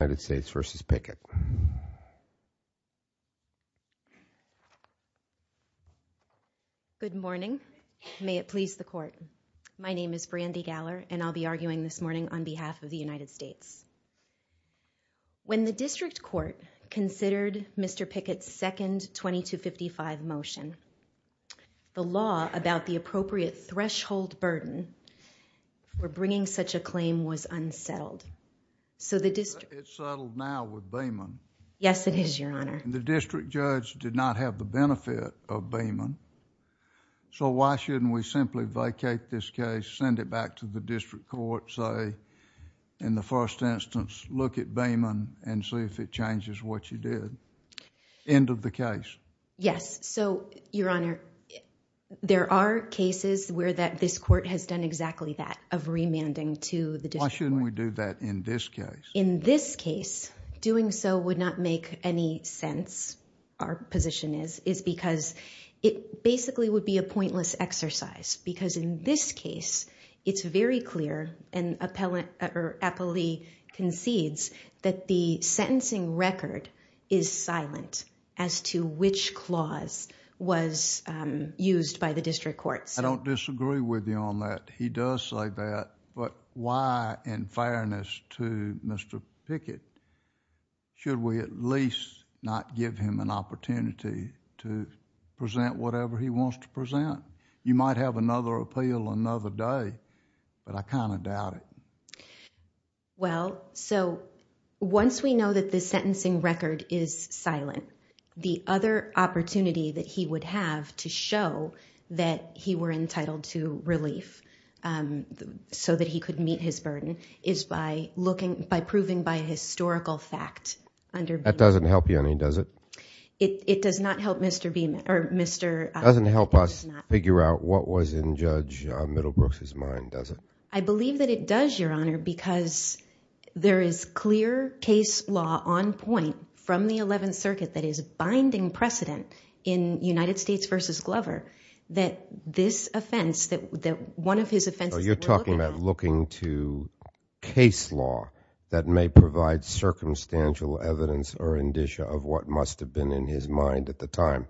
Good morning. May it please the court. My name is Brandi Galler and I'll be arguing this morning on behalf of the United States. When the district court considered Mr. Pickett's second 2255 motion, the law about the appropriate threshold burden for bringing such a claim was unsettled. The district judge did not have the benefit of Beeman, so why shouldn't we simply vacate this case, send it back to the district court, say, in the first instance, look at Beeman and see if it changes what you did. End of the case. Brandi Galler Yes. Your Honor, there are cases where this is a remanding to the district court. Judge Goldberg Why shouldn't we do that in this case? Brandi Galler In this case, doing so would not make any sense, our position is, is because it basically would be a pointless exercise because in this case, it's very clear and Appellee concedes that the sentencing record is silent as to which clause was used by the district court. Judge Goldberg I don't disagree with you on that. He does say that, but why, in fairness to Mr. Pickett, should we at least not give him an opportunity to present whatever he wants to present? You might have another appeal another day, but I kind of doubt it. Brandi Galler Well, so once we know that the sentencing record is silent, we're entitled to relief so that he could meet his burden, is by proving by historical fact under Beeman. Judge Goldberg That doesn't help you any, does it? Brandi Galler It does not help Mr. Beeman, or Mr.... Judge Goldberg It doesn't help us figure out what was in Judge Middlebrook's mind, does it? Brandi Galler I believe that it does, Your Honor, because there is clear case law on point from the Eleventh Circuit that is binding precedent in United States v. Glover that this offense, that one of his offenses... Judge Goldberg So you're talking about looking to case law that may provide circumstantial evidence or indicia of what must have been in his mind at the time.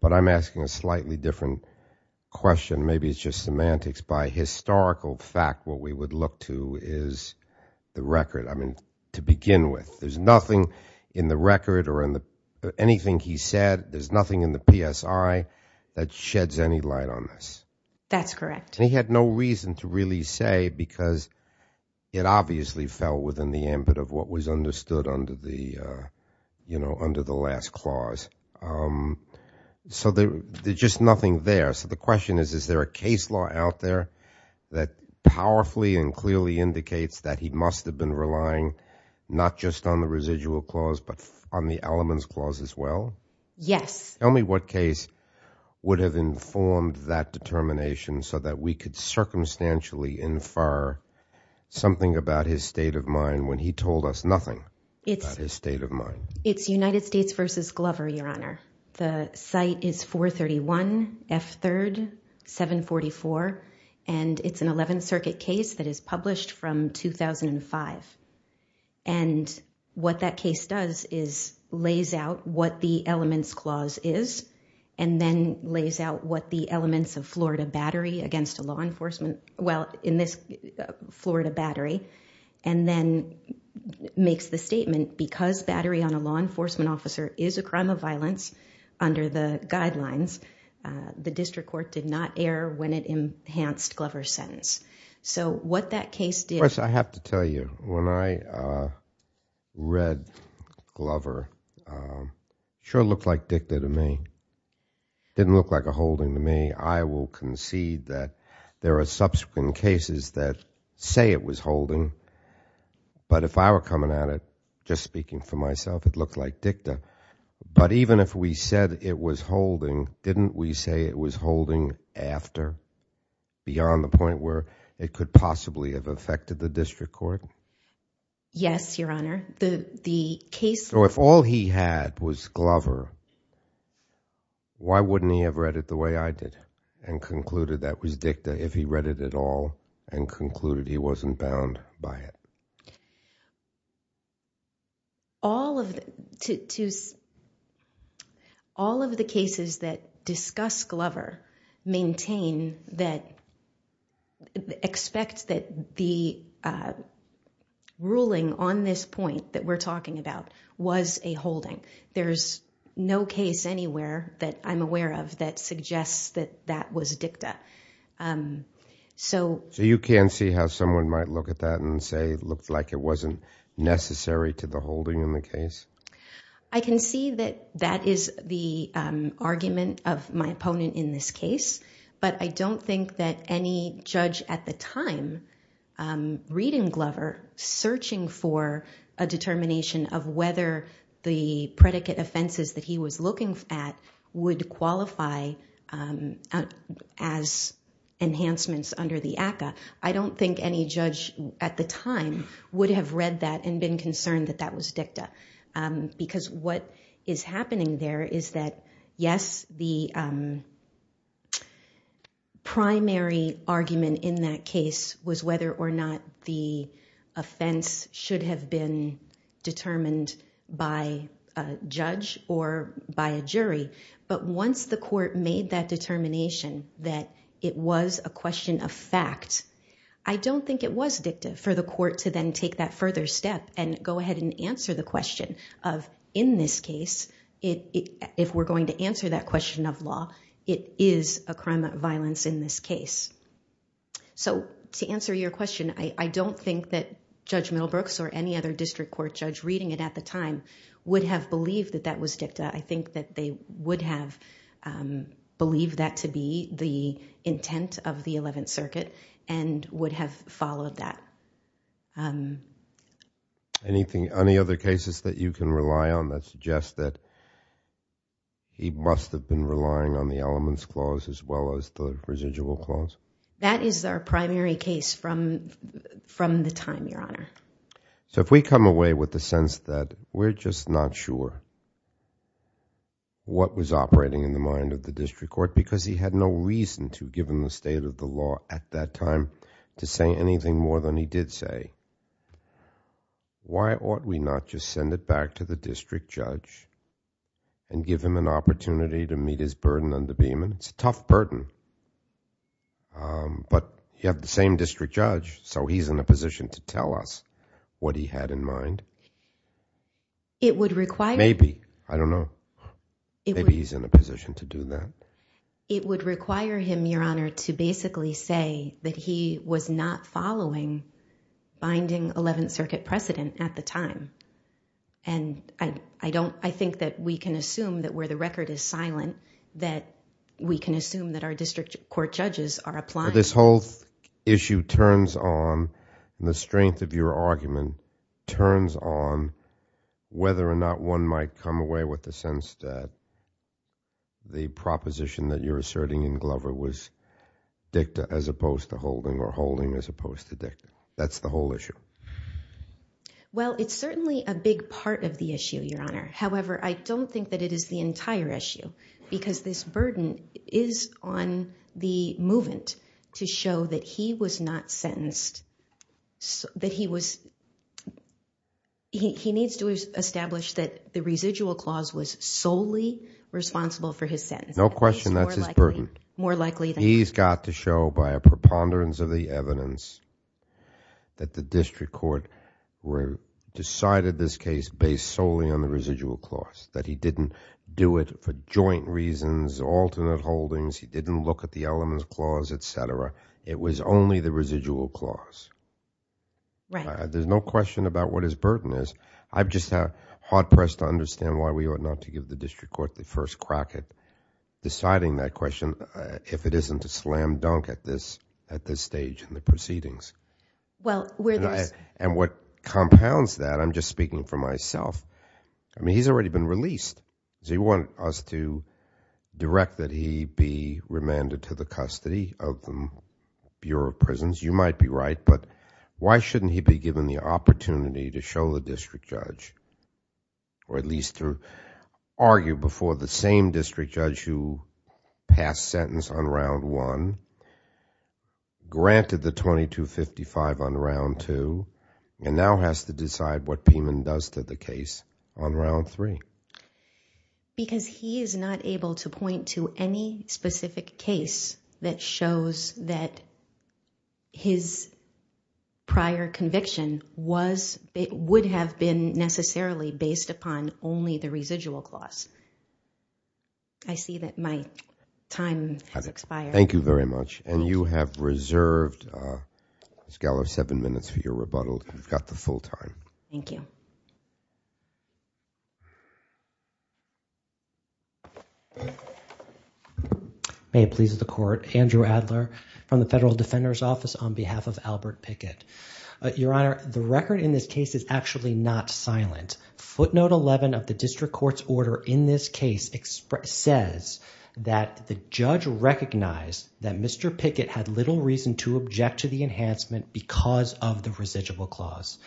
But I'm asking a slightly different question. Maybe it's just semantics. By historical fact, what we would look to is the record. I mean, to begin with, there's nothing in the record or in the... anything he said, there's nothing in the PSI that sheds any light on this. Brandi Galler That's correct. Judge Goldberg He had no reason to really say because it obviously fell within the ambit of what was understood under the last clause. So there's just nothing there. So the question is, is there a case law out there that powerfully and clearly indicates that he must have been relying not just on the residual clause but on the elements clause as well? Brandi Galler Yes. Judge Goldberg Tell me what case would have informed that determination so that we could circumstantially infer something about his state of mind when he told us nothing about his state of mind. Brandi Galler It's United States v. Glover, Your Honor. The site is 431 F. 3rd 744 and it's an 11th Circuit case that is published from 2005. And what that case does is lays out what the elements clause is and then lays out what the elements of Florida battery against a law enforcement... well, in this Florida battery and then makes the statement, because battery on a law enforcement officer is a crime of violence under the guidelines, the district court did not err when it enhanced Glover's sentence. So what that case did... Judge Goldberg When I read Glover, it sure looked like dicta to me. It didn't look like a holding to me. I will concede that there are subsequent cases that say it was holding, but if I were coming at it, just speaking for myself, it looked like dicta. But even if we said it was holding, didn't we say it was holding after, beyond the point where it could possibly have affected the district court? Judge Galler Yes, Your Honor. The case... Judge Goldberg So if all he had was Glover, why wouldn't he have read it the way I did and concluded that was dicta if he read it at all and concluded he wasn't bound by it? Judge Galler All of the cases that discuss Glover maintain that... expect that the ruling on this point that we're talking about was a holding. There's no case anywhere that I'm aware of that suggests that that was dicta. Judge Goldberg So you can see how someone might look at that and say it looked like it wasn't necessary to the holding in the case? Judge Galler I can see that that is the argument of my opponent in this case, but I don't think that any judge at the time, reading Glover, searching for a determination of whether the predicate offenses that he was looking at would qualify as enhancements under the ACCA, I don't think any judge at the time would have read that and been concerned that that was dicta. Because what is happening there is that, yes, the primary argument in that case was whether or not the offense should have been determined by a judge or by a jury, but once the court made that determination that it was a question of fact, I don't think it was dicta for the court to then take that if we're going to answer that question of law, it is a crime of violence in this case. So to answer your question, I don't think that Judge Middlebrooks or any other district court judge reading it at the time would have believed that that was dicta. I think that they would have believed that to be the intent of the Eleventh Circuit and would have followed that. Any other cases that you can rely on that suggest that he must have been relying on the Elements Clause as well as the Residual Clause? That is our primary case from the time, Your Honor. So if we come away with the sense that we're just not sure what was operating in the mind of the district court because he had no reason to, given the state of the law at that time, to say anything more than he did say, why ought we not just send it back to the district judge and give him an opportunity to meet his burden under Beeman? It's a tough burden. But you have the same district judge, so he's in a position to tell us what he had in mind. It would require... Maybe. I don't know. Maybe he's in a position to do that. It would require him, Your Honor, to basically say that he was not following binding Eleventh Circuit precedent at the time. I think that we can assume that where the record is silent that we can assume that our district court judges are applying... This whole issue turns on, the strength of your argument turns on, whether or not one might come away with the sense that the proposition that you're asserting in Glover was dicta as opposed to holding or holding as opposed to dicta. That's the whole issue. Well, it's certainly a big part of the issue, Your Honor. However, I don't think that it is the entire issue because this burden is on the movement to show that he was not sentenced, that he was... He needs to establish that the residual clause was solely responsible for his sentence. No question. That's his burden. More likely than not. He's got to show by a preponderance of the evidence that the district court decided this case based solely on the residual clause, that he didn't do it for joint reasons, alternate holdings, he didn't look at the elements clause, etc. It was only the residual clause. There's no question about what his burden is. I'm just hard-pressed to understand why we ought not to give the district court the first crack at deciding that question if it isn't a slam dunk at this stage in the proceedings. What compounds that, I'm just speaking for myself, he's already been released. He wanted us to direct that he be remanded to the custody of the Bureau of Prisons. You might be right, but why shouldn't he be given the opportunity to show the district judge, or at least to argue before the same district judge who passed sentence on Round 1, granted the 2255 on Round 2, and now has to decide what Piemann does to the case on Round 3? Because he is not able to point to any specific case that shows that his prior conviction was, would have been necessarily based upon only the residual clause. I see that my time has expired. Thank you very much. And you have reserved, Ms. Gallo, seven minutes for your rebuttal. You've got the full time. Thank you. May it please the court. Andrew Adler from the Federal Defender's Office on behalf of Albert Pickett. Your Honor, the record in this case is actually not silent. Footnote 11 of the district court's order in this case says that the judge recognized that Mr. Pickett had little reason to object to the enhancement because of the residual clause.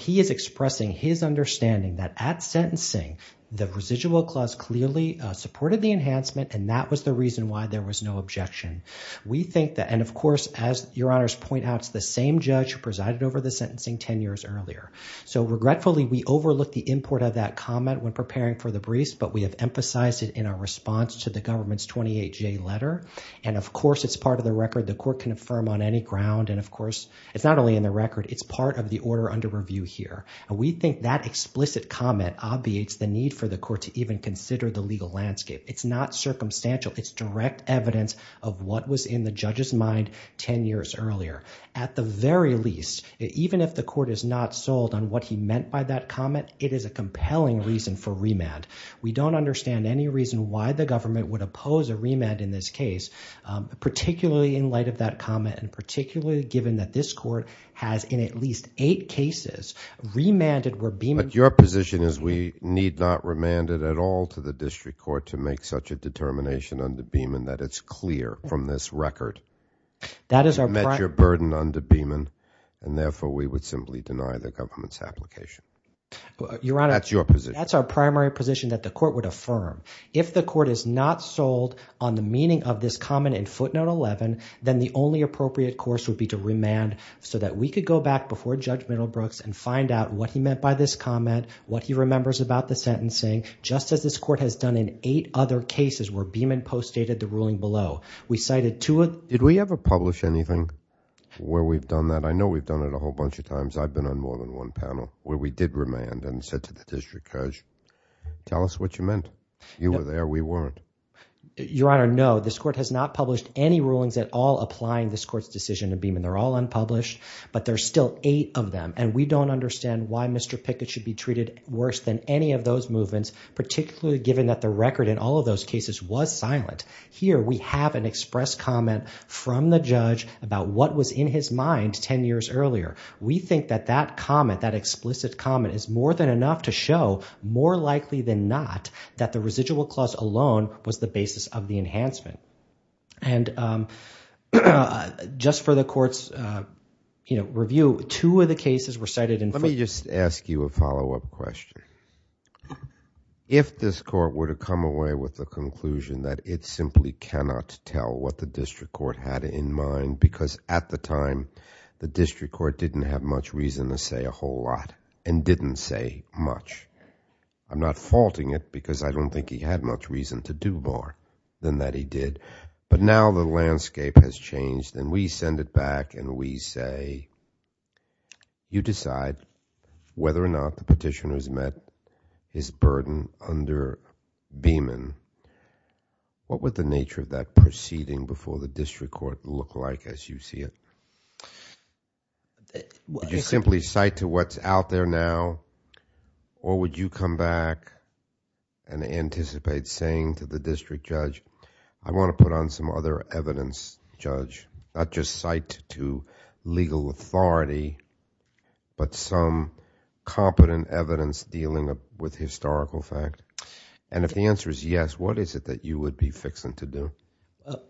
He is expressing his understanding that at sentencing, the residual clause clearly supported the enhancement and that was the reason why there was no objection. We think that, and of course, as Your Honor's point out, it's the same judge who presided over the sentencing ten years earlier. Regretfully, we overlooked the import of that comment when preparing for the briefs, but we have emphasized it in our response to the government's 28-J letter. And of course, it's part of the record the court can affirm on any ground. And of course, it's not only in the record, it's part of the order under review here. And we think that explicit comment obviates the need for the court to even consider the legal landscape. It's not circumstantial. It's direct evidence of what was in the judge's mind ten years earlier. At the very least, even if the court is not sold on what he meant by that comment, it is a compelling reason for remand. We don't understand any reason why the government would oppose a remand in this case, particularly in light of that comment and particularly given that this court has, in at least eight cases, remanded where Beeman… But your position is we need not remand it at all to the district court to make such a determination under Beeman that it's clear from this record. That is our… You met your burden under Beeman and therefore we would simply deny the government's application. Your Honor, that's our primary position that the court would affirm. If the court is not sold on the meaning of this comment in footnote 11, then the only appropriate course would be to remand so that we could go back before Judge Middlebrooks and find out what he meant by this comment, what he remembers about the sentencing, just as this court has done in eight other cases where Beeman post-stated the ruling below. We cited two… Did we ever publish anything where we've done that? I know we've done it a whole bunch of times. I've been on more than one panel where we did remand and said to the judge, tell us what you meant. You were there, we weren't. Your Honor, no. This court has not published any rulings at all applying this court's decision to Beeman. They're all unpublished, but there's still eight of them and we don't understand why Mr. Pickett should be treated worse than any of those movements, particularly given that the record in all of those cases was silent. Here we have an express comment from the judge about what was in his mind ten years earlier. We think that that comment, that explicit comment is more than enough to show, more likely than not, that the residual clause alone was the basis of the enhancement. And just for the court's review, two of the cases were cited in… Let me just ask you a follow-up question. If this court were to come away with the conclusion that it simply cannot tell what the district court had in mind, because at the time the district court said a lot and didn't say much, I'm not faulting it because I don't think he had much reason to do more than that he did, but now the landscape has changed and we send it back and we say, you decide whether or not the petitioner's met his burden under Beeman. What would the nature of that proceeding before the district court look like as you see it? Would you simply cite to what's out there now or would you come back and anticipate saying to the district judge, I want to put on some other evidence, judge, not just cite to legal authority but some competent evidence dealing with historical fact? And if the answer is yes, what is it that you would be fixing to do?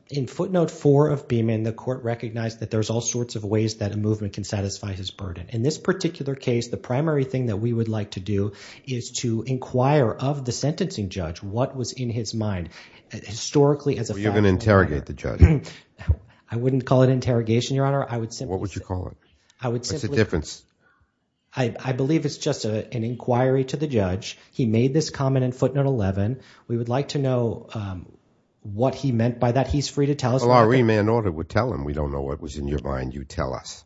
In footnote four of Beeman, the court recognized that there's all sorts of ways that a movement can satisfy his burden. In this particular case, the primary thing that we would like to do is to inquire of the sentencing judge what was in his mind. Historically, as a… Were you going to interrogate the judge? I wouldn't call it interrogation, Your Honor. I would simply… What would you call it? What's the difference? I believe it's just an inquiry to the judge. He made this comment in footnote 11. We would like to know what he meant by that. He's free to tell us what he… Well, our remand order would tell him. We don't know what was in your mind. You tell us.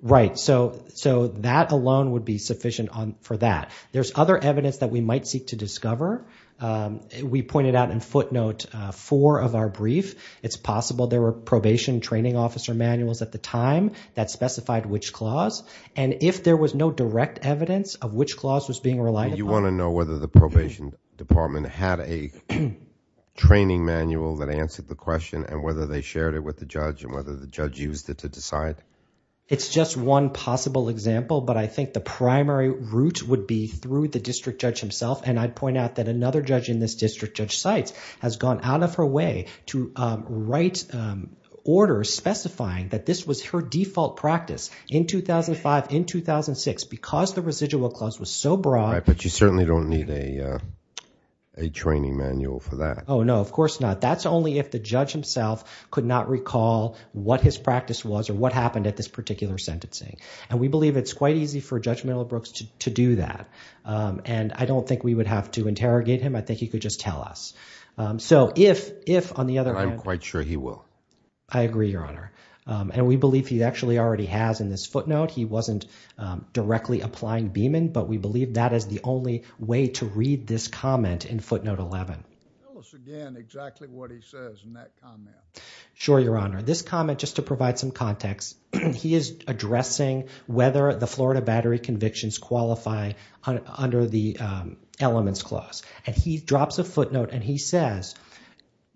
Right. So that alone would be sufficient for that. There's other evidence that we might seek to discover. We pointed out in footnote four of our brief. It's possible there were probation training officer manuals at the time that specified which clause. And if there was no direct evidence of which clause was being relied upon… And had a training manual that answered the question and whether they shared it with the judge and whether the judge used it to decide? It's just one possible example, but I think the primary route would be through the district judge himself. And I'd point out that another judge in this district judge site has gone out of her way to write orders specifying that this was her default practice in 2005, in 2006. Because the residual clause was so broad… We certainly don't need a training manual for that. Oh, no. Of course not. That's only if the judge himself could not recall what his practice was or what happened at this particular sentencing. And we believe it's quite easy for Judge Miller Brooks to do that. And I don't think we would have to interrogate him. I think he could just tell us. So if, on the other hand… I'm quite sure he will. I agree, Your Honor. And we believe he actually already has in this footnote. He wasn't directly applying Beeman, but we believe that is the only way to read this comment in footnote 11. Tell us again exactly what he says in that comment. Sure, Your Honor. This comment, just to provide some context, he is addressing whether the Florida Battery convictions qualify under the Elements Clause. And he drops a footnote and he says,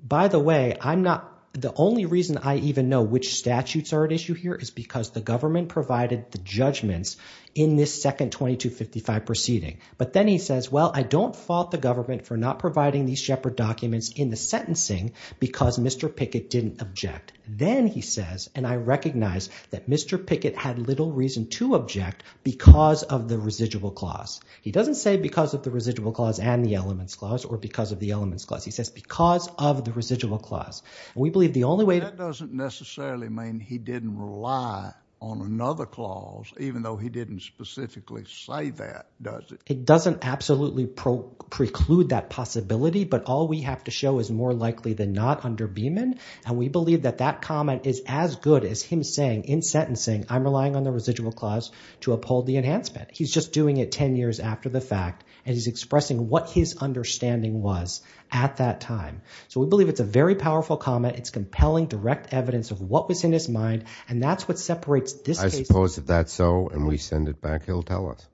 by the way, I'm not… The only reason I even know which statutes are at issue here is because the government provided the judgments in this second 2255 proceeding. But then he says, well, I don't fault the government for not providing these Shepard documents in the sentencing because Mr. Pickett didn't object. Then he says, and I recognize that Mr. Pickett had little reason to object because of the residual clause. He doesn't say because of the residual clause and the Elements Clause or because of the Elements Clause. He says because of the residual clause. And we believe the only way to… He doesn't rely on another clause, even though he didn't specifically say that, does he? It doesn't absolutely preclude that possibility, but all we have to show is more likely than not under Beeman. And we believe that that comment is as good as him saying in sentencing, I'm relying on the residual clause to uphold the enhancement. He's just doing it 10 years after the fact and he's expressing what his understanding was at that time. So we believe it's a very powerful comment. It's compelling direct evidence of what was in his mind. And that's what separates this case… I suppose if that's so and we send it back, he'll tell us.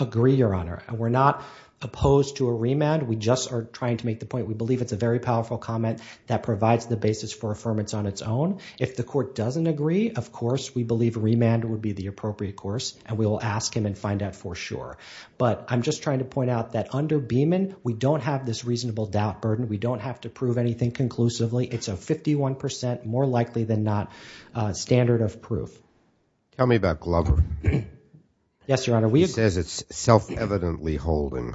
Agree, Your Honor. We're not opposed to a remand. We just are trying to make the point we believe it's a very powerful comment that provides the basis for affirmance on its own. If the court doesn't agree, of course, we believe a remand would be the appropriate course and we will ask him and find out for sure. But I'm just trying to point out that under Beeman, we don't have this reasonable doubt burden. We don't have to prove anything conclusively. It's a 51% more likely than not standard of proof. Tell me about Glover. Yes, Your Honor. He says it's self-evidently holding.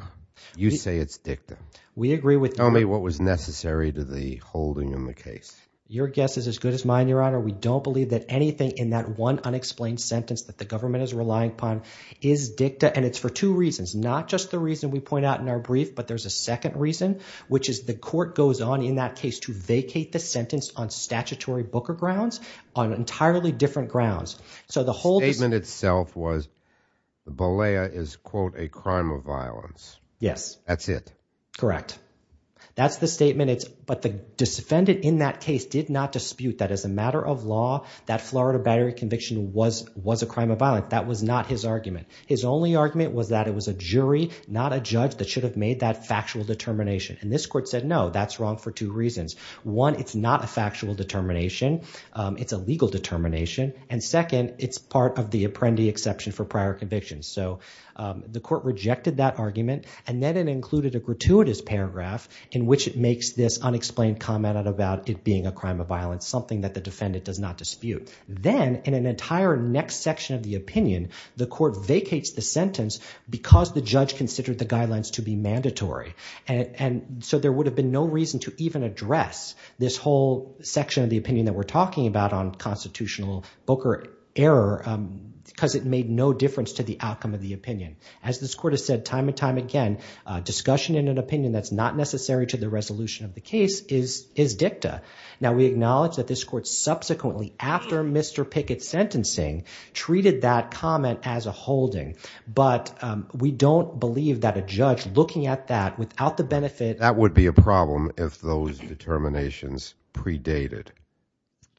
You say it's dicta. We agree with… Tell me what was necessary to the holding in the case. Your guess is as good as mine, Your Honor. We don't believe that anything in that one unexplained sentence that the government is relying upon is dicta. And it's for two reasons. Not just the reason we point out in our brief, but there's a second reason, which is the court goes on in that case to vacate the sentence on statutory Booker grounds on entirely different grounds. So the whole… The statement itself was Bollea is, quote, a crime of violence. Yes. That's it. Correct. That's the statement. But the defendant in that case did not dispute that as a matter of law, that Florida battery conviction was a crime of violence. That was not his argument. His only argument was that it was a jury, not a judge, that should have made that factual determination. And this court said, no, that's wrong for two reasons. One, it's not a factual determination. It's a legal determination. And second, it's part of the apprendee exception for prior convictions. So the court rejected that argument. And then it included a gratuitous paragraph in which it makes this unexplained comment about it being a crime of violence, something that the defendant does not dispute. Then in an entire next section of the opinion, the court vacates the sentence because the And so there would have been no reason to even address this whole section of the opinion that we're talking about on constitutional booker error because it made no difference to the outcome of the opinion. As this court has said time and time again, discussion in an opinion that's not necessary to the resolution of the case is dicta. Now, we acknowledge that this court subsequently, after Mr. Pickett's sentencing, treated that comment as a holding. But we don't believe that a judge looking at that without the benefit That would be a problem if those determinations predated.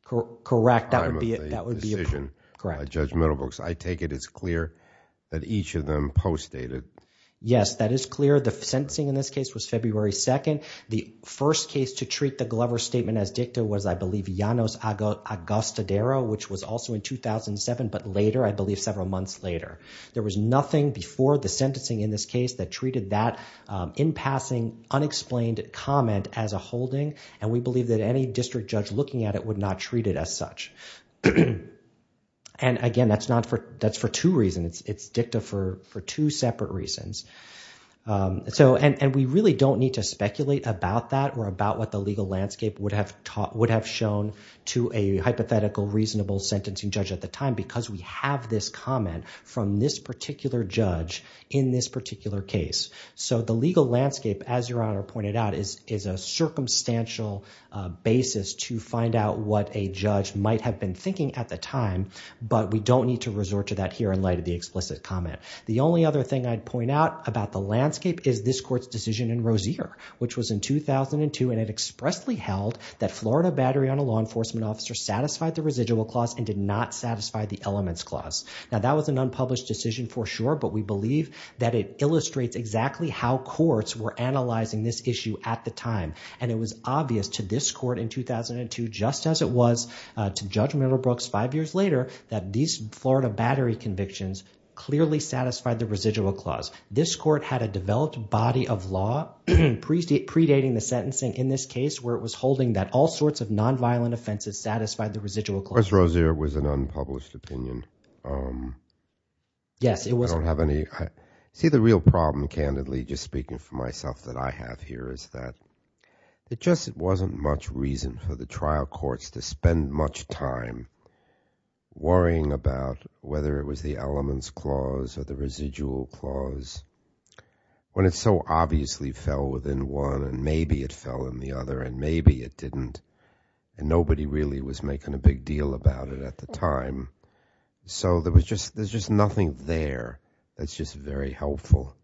Correct. That would be a decision. Correct. By Judge Middlebrooks. I take it as clear that each of them postdated. Yes, that is clear. The sentencing in this case was February 2nd. The first case to treat the Glover statement as dicta was, I believe, Janos Agostadero, which was also in 2007, but later, I believe several months later. There was nothing before the sentencing in this case that treated that in passing, unexplained comment as a holding. And we believe that any district judge looking at it would not treat it as such. And again, that's for two reasons. It's dicta for two separate reasons. And we really don't need to speculate about that or about what the legal landscape would have shown to a hypothetical, reasonable sentencing judge at the time, because we have this comment from this particular judge in this particular case. So the legal landscape, as Your Honor pointed out, is a circumstantial basis to find out what a judge might have been thinking at the time. But we don't need to resort to that here in light of the explicit comment. The only other thing I'd point out about the landscape is this court's decision in Rozier, which was in 2002, and it expressly held that Florida battery on a law enforcement officer satisfied the residual clause and did not satisfy the elements clause. Now, that was an unpublished decision for sure, but we believe that it illustrates exactly how courts were analyzing this issue at the time. And it was obvious to this court in 2002, just as it was to Judge Miller Brooks five years later, that these Florida battery convictions clearly satisfied the residual clause. This court had a developed body of law predating the sentencing in this case, where it was holding that all sorts of nonviolent offenses satisfied the residual clause. Of course, Rozier was an unpublished opinion. Yes, it was. I don't have any – see, the real problem, candidly, just speaking for myself that I have here, is that it just wasn't much reason for the trial courts to spend much time worrying about whether it was the elements clause or the residual clause when it so obviously fell within one, and maybe it fell in the other, and maybe it didn't. And nobody really was making a big deal about it at the time. So there's just nothing there that's just very helpful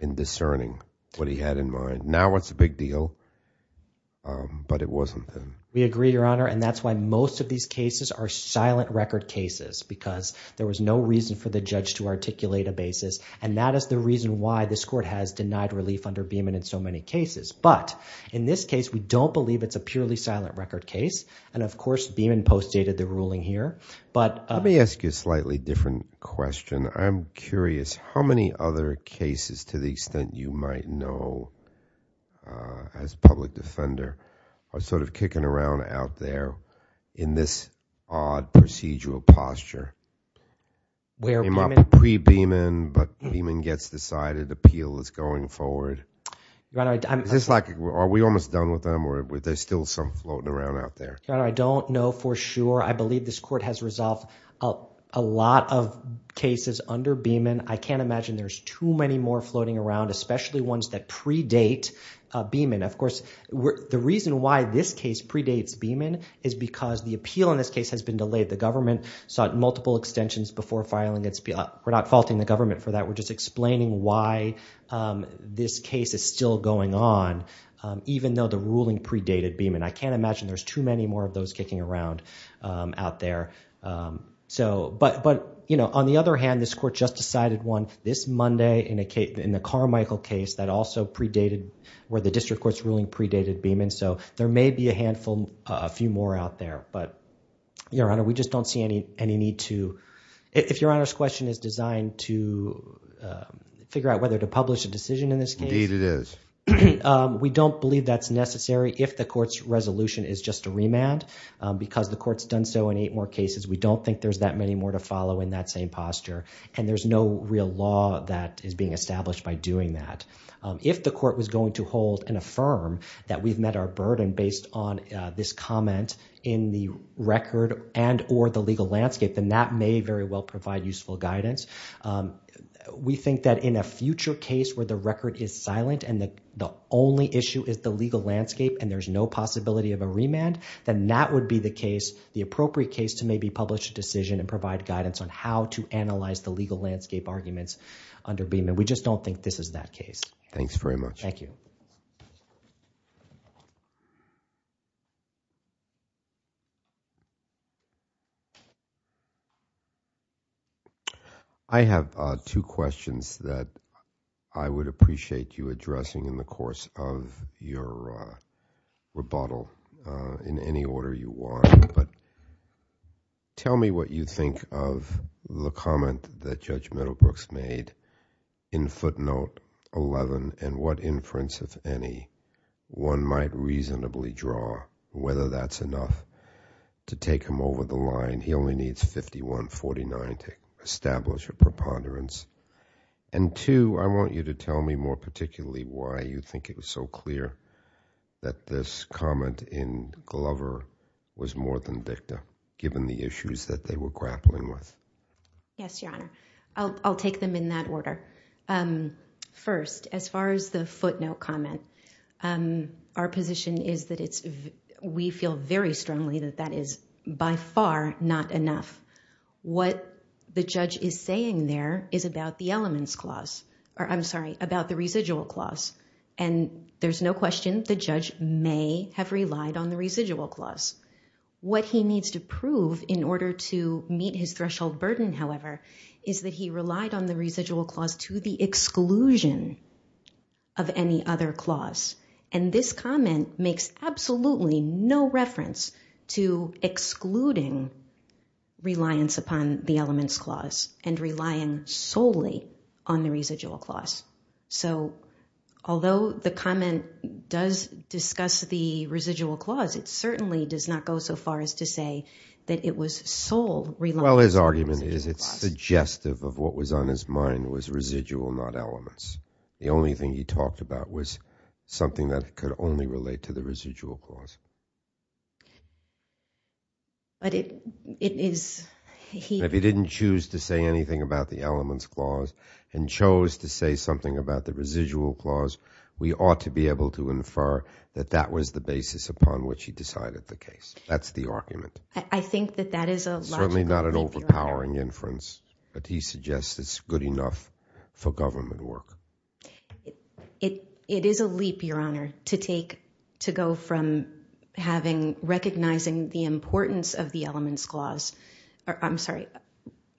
in discerning what he had in mind. Now it's a big deal, but it wasn't then. We agree, Your Honor, and that's why most of these cases are silent record cases, because there was no reason for the judge to articulate a basis. And that is the reason why this court has denied relief under Beeman in so many cases. But in this case, we don't believe it's a purely silent record case, and of course, Beeman postdated the ruling here. Let me ask you a slightly different question. I'm curious, how many other cases, to the extent you might know as a public defender, are sort of kicking around out there in this odd procedural posture? In pre-Beeman, but Beeman gets decided, appeal is going forward. Is this like, are we almost done with them, or are there still some floating around out there? Your Honor, I don't know for sure. I believe this court has resolved a lot of cases under Beeman. I can't imagine there's too many more floating around, especially ones that predate Beeman. Of course, the reason why this case predates Beeman is because the appeal in this case has been delayed. The government sought multiple extensions before filing its appeal. We're not faulting the government for that. We're just explaining why this case is still going on, even though the ruling predated Beeman. I can't imagine there's too many more of those kicking around out there. But on the other hand, this court just decided one this Monday in the Carmichael case that also predated, where the district court's ruling predated Beeman. So there may be a few more out there, but Your Honor, we just don't see any need to... if Your Honor's question is designed to figure out whether to publish a decision in this case... Indeed it is. We don't believe that's necessary if the court's resolution is just a remand, because the court's done so in eight more cases. We don't think there's that many more to follow in that same posture, and there's no real law that is being established by doing that. If the court was record and or the legal landscape, then that may very well provide useful guidance. We think that in a future case where the record is silent and the only issue is the legal landscape and there's no possibility of a remand, then that would be the case... the appropriate case to maybe publish a decision and provide guidance on how to analyze the legal landscape arguments under Beeman. We just don't think this is that case. Thanks very much. Thank you. I have two questions that I would appreciate you addressing in the course of your rebuttal in any order you want, but tell me what you think of the comment that Judge Middlebrooks made in footnote 11 and what inference, if any, one might reasonably draw whether that's enough to take him over the line. He only needs 51-49 to establish a preponderance. And two, I want you to tell me more particularly why you think it was so clear that this comment in Glover was more than dicta, given the issues that they were grappling with. Yes, Your Honor. I'll take them in that order. First, as far as the footnote comment, our position is that we feel very strongly that that is by far not enough. What the judge is saying there is about the residual clause, and there's no question the judge may have relied on the residual clause. What he needs to prove in order to meet his threshold burden, however, is that he relied on the residual clause to the exclusion of any other clause. And this comment makes absolutely no reference to excluding reliance upon the elements clause and relying solely on the residual clause. So, although the comment does discuss the residual clause, it certainly does not go so far as to say that it was sole reliance on the residual clause. Well, his argument is it's suggestive of what was on his mind was residual, not elements. The only thing he talked about was something that could only relate to the residual clause. But it is, he... If he didn't choose to say anything about the elements clause and chose to say something about the residual clause, we ought to be able to infer that that was the basis upon which he decided the case. That's the argument. I think that that is a logical... ...reference, but he suggests it's good enough for government work. It is a leap, Your Honor, to take...to go from having...recognizing the importance of the elements clause...I'm sorry,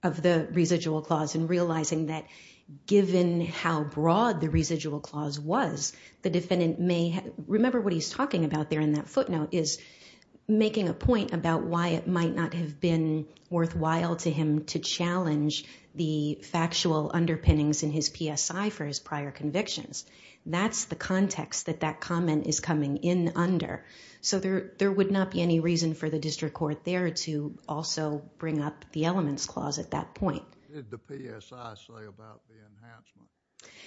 of the residual clause and realizing that given how broad the residual clause was, the defendant may...remember what he's talking about there in that footnote is making a point about why it might not have been worthwhile to him to challenge the factual underpinnings in his PSI for his prior convictions. That's the context that that comment is coming in under. So there would not be any reason for the district court there to also bring up the elements clause at that point. What did the PSI say about the enhancement?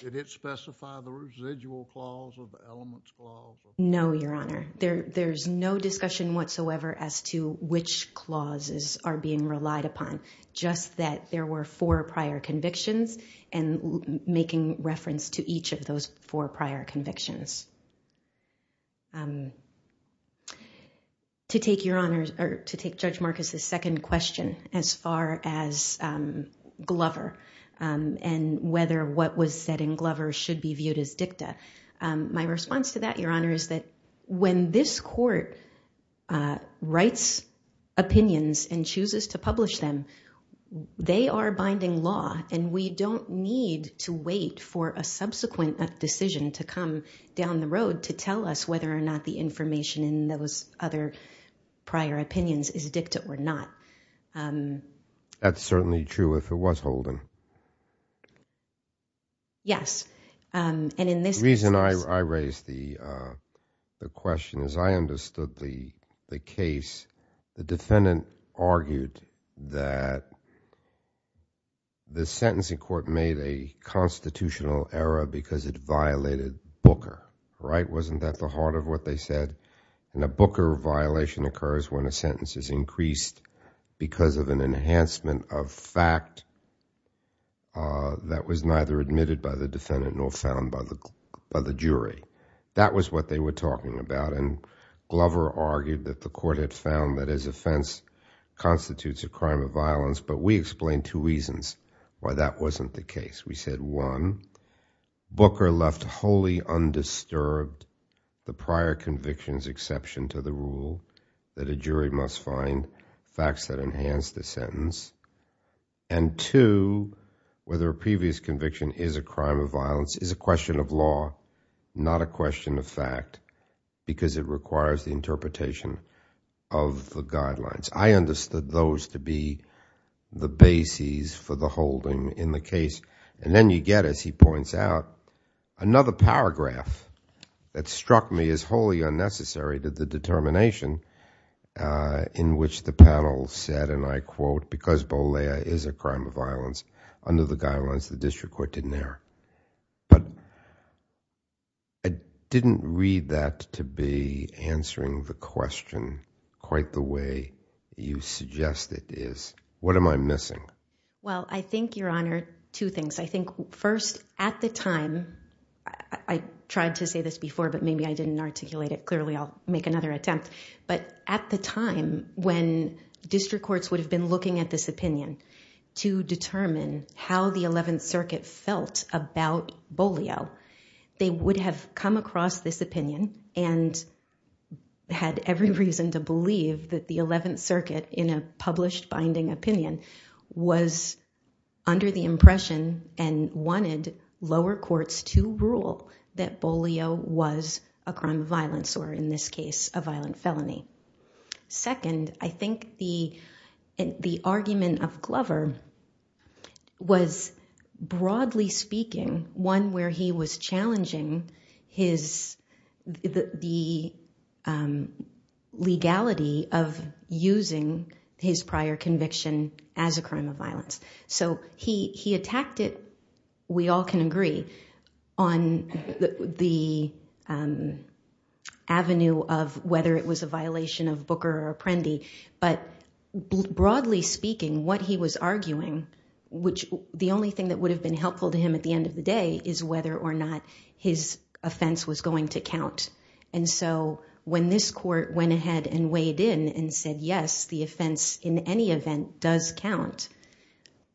Did it specify the residual clause or the elements clause? No, Your Honor. There's no discussion whatsoever as to which clauses are being relied upon. Just that there were four prior convictions and making reference to each of those four prior convictions. To take Your Honor's...or to take Judge Marcus' second question as far as Glover and whether what was said in Glover should be viewed as dicta. My response to that, Your Honor, is that when this court writes opinions and chooses to publish them, they are binding law and we don't need to wait for a subsequent decision to come down the road to tell us whether or not the information in those other prior opinions is dicta or not. That's certainly true if it was Holden. Yes. And in this case... The reason I raised the question is I understood the case. The defendant argued that the sentencing court made a constitutional error because it violated Booker, right? Wasn't that the heart of what they said? And a Booker violation occurs when a sentence is increased because of an enhancement of fact that was neither admitted by the defendant nor found by the jury. That was what they were talking about. And Glover argued that the court had found that his offense constitutes a crime of violence, but we explained two reasons why that wasn't the case. We said one, Booker left wholly undisturbed the prior conviction's exception to the rule that a jury must find facts that enhance the sentence. And two, whether a previous conviction is a crime of violence is a question of law, not a question of fact, because it requires the interpretation of the guidelines. I understood those to be the bases for the Holden in the case. And then you get, as he points out, another paragraph that struck me as wholly unnecessary that the determination in which the panel said, and I quote, because Bolea is a crime of violence, under the guidelines, the district court didn't err. But I didn't read that to be answering the question quite the way you suggest it is. What am I missing? Well I think, Your Honor, two things. I think first, at the time, I tried to say this before but maybe I didn't articulate it clearly. I'll make another attempt. But at the time when district courts would have been looking at this opinion to determine how the 11th Circuit felt about Bolea, they would have come across this opinion and had every reason to believe that the 11th Circuit, in a published binding opinion, was under the impression and wanted lower courts to rule that Bolea was a crime of violence, or in this case, a violent felony. Second, I think the argument of Glover was, broadly speaking, one where he was challenging the legality of using his prior conviction as a crime of violence. So he attacked it, we all can agree, on the avenue of whether it was a violation of Booker or Apprendi. But broadly speaking, what he was arguing, which the only thing that would matter or not, his offense was going to count. And so when this court went ahead and weighed in and said, yes, the offense, in any event, does count.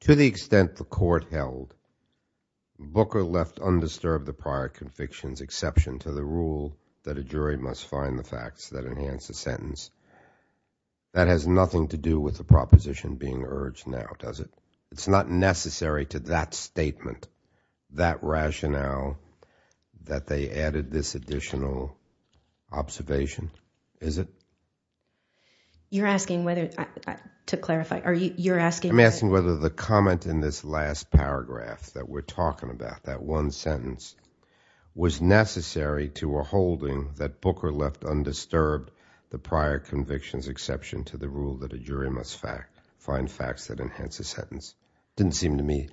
To the extent the court held, Booker left undisturbed the prior conviction's exception to the rule that a jury must find the facts that enhance the sentence, that has nothing to do with the proposition being urged now, does it? It's not necessary to that statement, that rationale, that they added this additional observation, is it? You're asking whether, to clarify, are you, you're asking... I'm asking whether the comment in this last paragraph that we're talking about, that one sentence, was necessary to a holding that Booker left undisturbed the prior conviction's exception to the rule that a jury must find facts that enhance the sentence. Didn't seem to me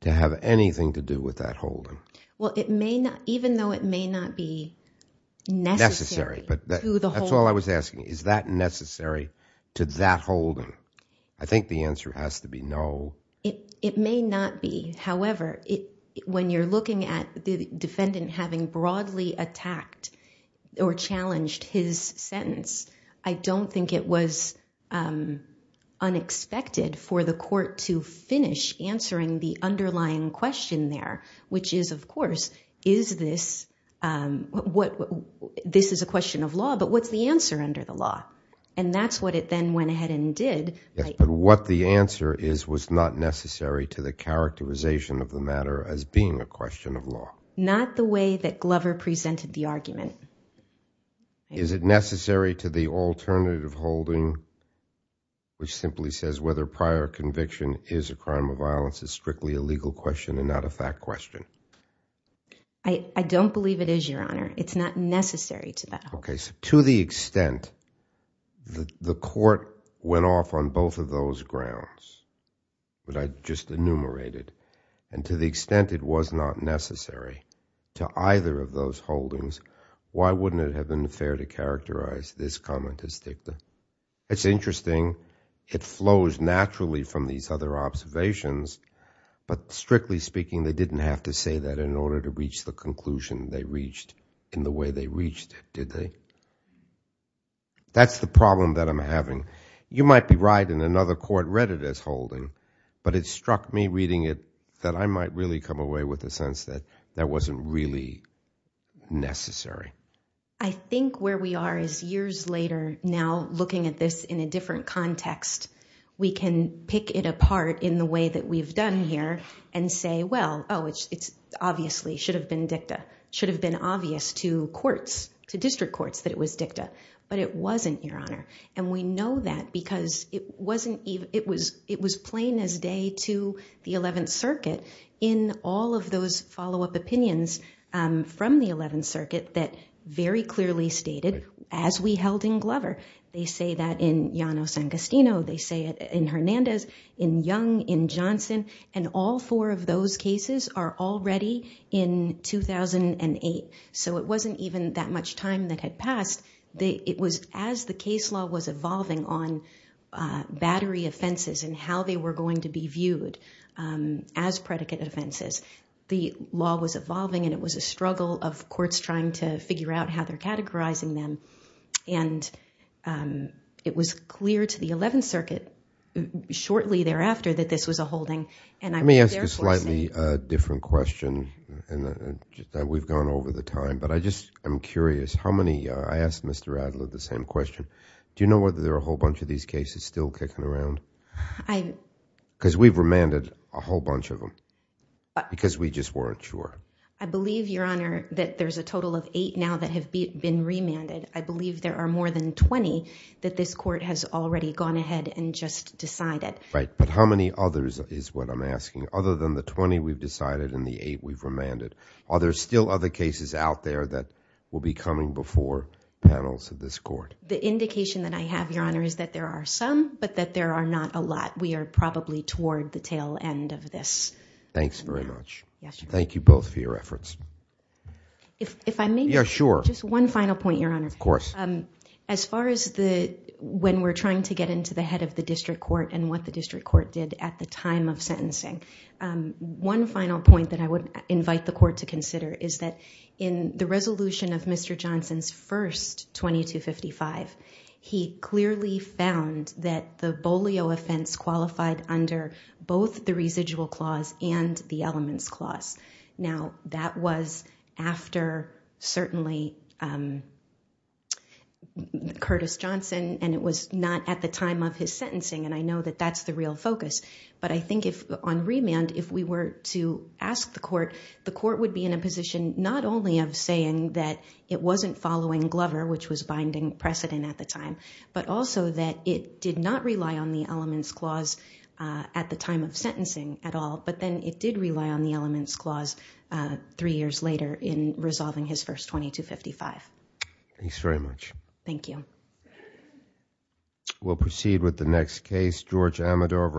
to have anything to do with that holding. Well, it may not, even though it may not be necessary to the holding... Necessary, but that's all I was asking. Is that necessary to that holding? I think the answer has to be no. It may not be. However, when you're looking at the defendant having broadly attacked or challenged his sentence, I don't think it was unexpected for the court to finish answering the underlying question there, which is, of course, is this, what, this is a question of law, but what's the answer under the law? And that's what it then went ahead and did. Yes, but what the answer is was not necessary to the characterization of the matter as being a question of law. Not the way that Glover presented the argument. Is it necessary to the alternative holding, which simply says whether prior conviction is a crime of violence is strictly a legal question and not a fact question? I don't believe it is, Your Honor. It's not necessary to that holding. Okay, so to the extent that the court went off on both of those grounds that I just enumerated, and to the extent it was not necessary to either of those holdings, why wouldn't it have been fair to characterize this comment as dicta? It's interesting. It flows naturally from these other observations, but strictly speaking, they didn't have to say that in order to reach the conclusion they reached in the way they reached it, did they? That's the problem that I'm having. You might be right, and another court read it as holding, but it struck me reading it that I might really come away with a sense that that wasn't really necessary. I think where we are is years later, now looking at this in a different context, we can pick it apart in the way that we've done here and say, well, oh, it's obviously should have been dicta, should have been obvious to courts, to district courts that it was dicta, but it wasn't, Your Honor. And we know that because it was plain as day to the 11th Circuit in all of those follow-up opinions from the 11th Circuit that very clearly stated, as we held in Glover, they say that in Llanos and Castino, they say it in Hernandez, in Young, in Johnson, and all four of those cases are already in 2008. So it wasn't even that much time that had passed. It was as the case law was evolving on battery offenses and how they were going to be viewed as predicate offenses, the law was evolving and it was a struggle of courts trying to figure out how they're categorizing them. And it was clear to the 11th Circuit shortly thereafter that this was a holding. Let me ask you a slightly different question. We've gone over the time, but I just am curious, how many, I asked Mr. Adler the same question. Do you know whether there are a whole bunch of these cases still kicking around? Because we've remanded a whole bunch of them because we just weren't sure. I believe, Your Honor, that there's a total of eight now that have been remanded. I believe there are more than 20 that this Court has already gone ahead and just decided. Right. But how many others is what I'm asking? Other than the 20 we've decided and the eight we've remanded, are there still other cases out there that will be coming before panels of this Court? The indication that I have, Your Honor, is that there are some, but that there are not a lot. We are probably toward the tail end of this. Thanks very much. Thank you both for your efforts. If I may? Yeah, sure. Just one final point, Your Honor. Of course. As far as when we're trying to get into the head of the District Court and what the District Court did at the time of sentencing, one final point that I would invite the Court to consider is that in the resolution of Mr. Johnson's first 2255, he clearly found that the bolio offense qualified under both the residual clause and the elements clause. Now, that was after, certainly, Curtis Johnson, and it was not at the time of his sentencing. I know that that's the real focus. But I think on remand, if we were to ask the Court, the Court would have an indication, not only of saying that it wasn't following Glover, which was binding precedent at the time, but also that it did not rely on the elements clause at the time of sentencing at all, but then it did rely on the elements clause three years later in resolving his first 2255. Thanks very much. Thank you. We'll proceed with the next case, George Amador.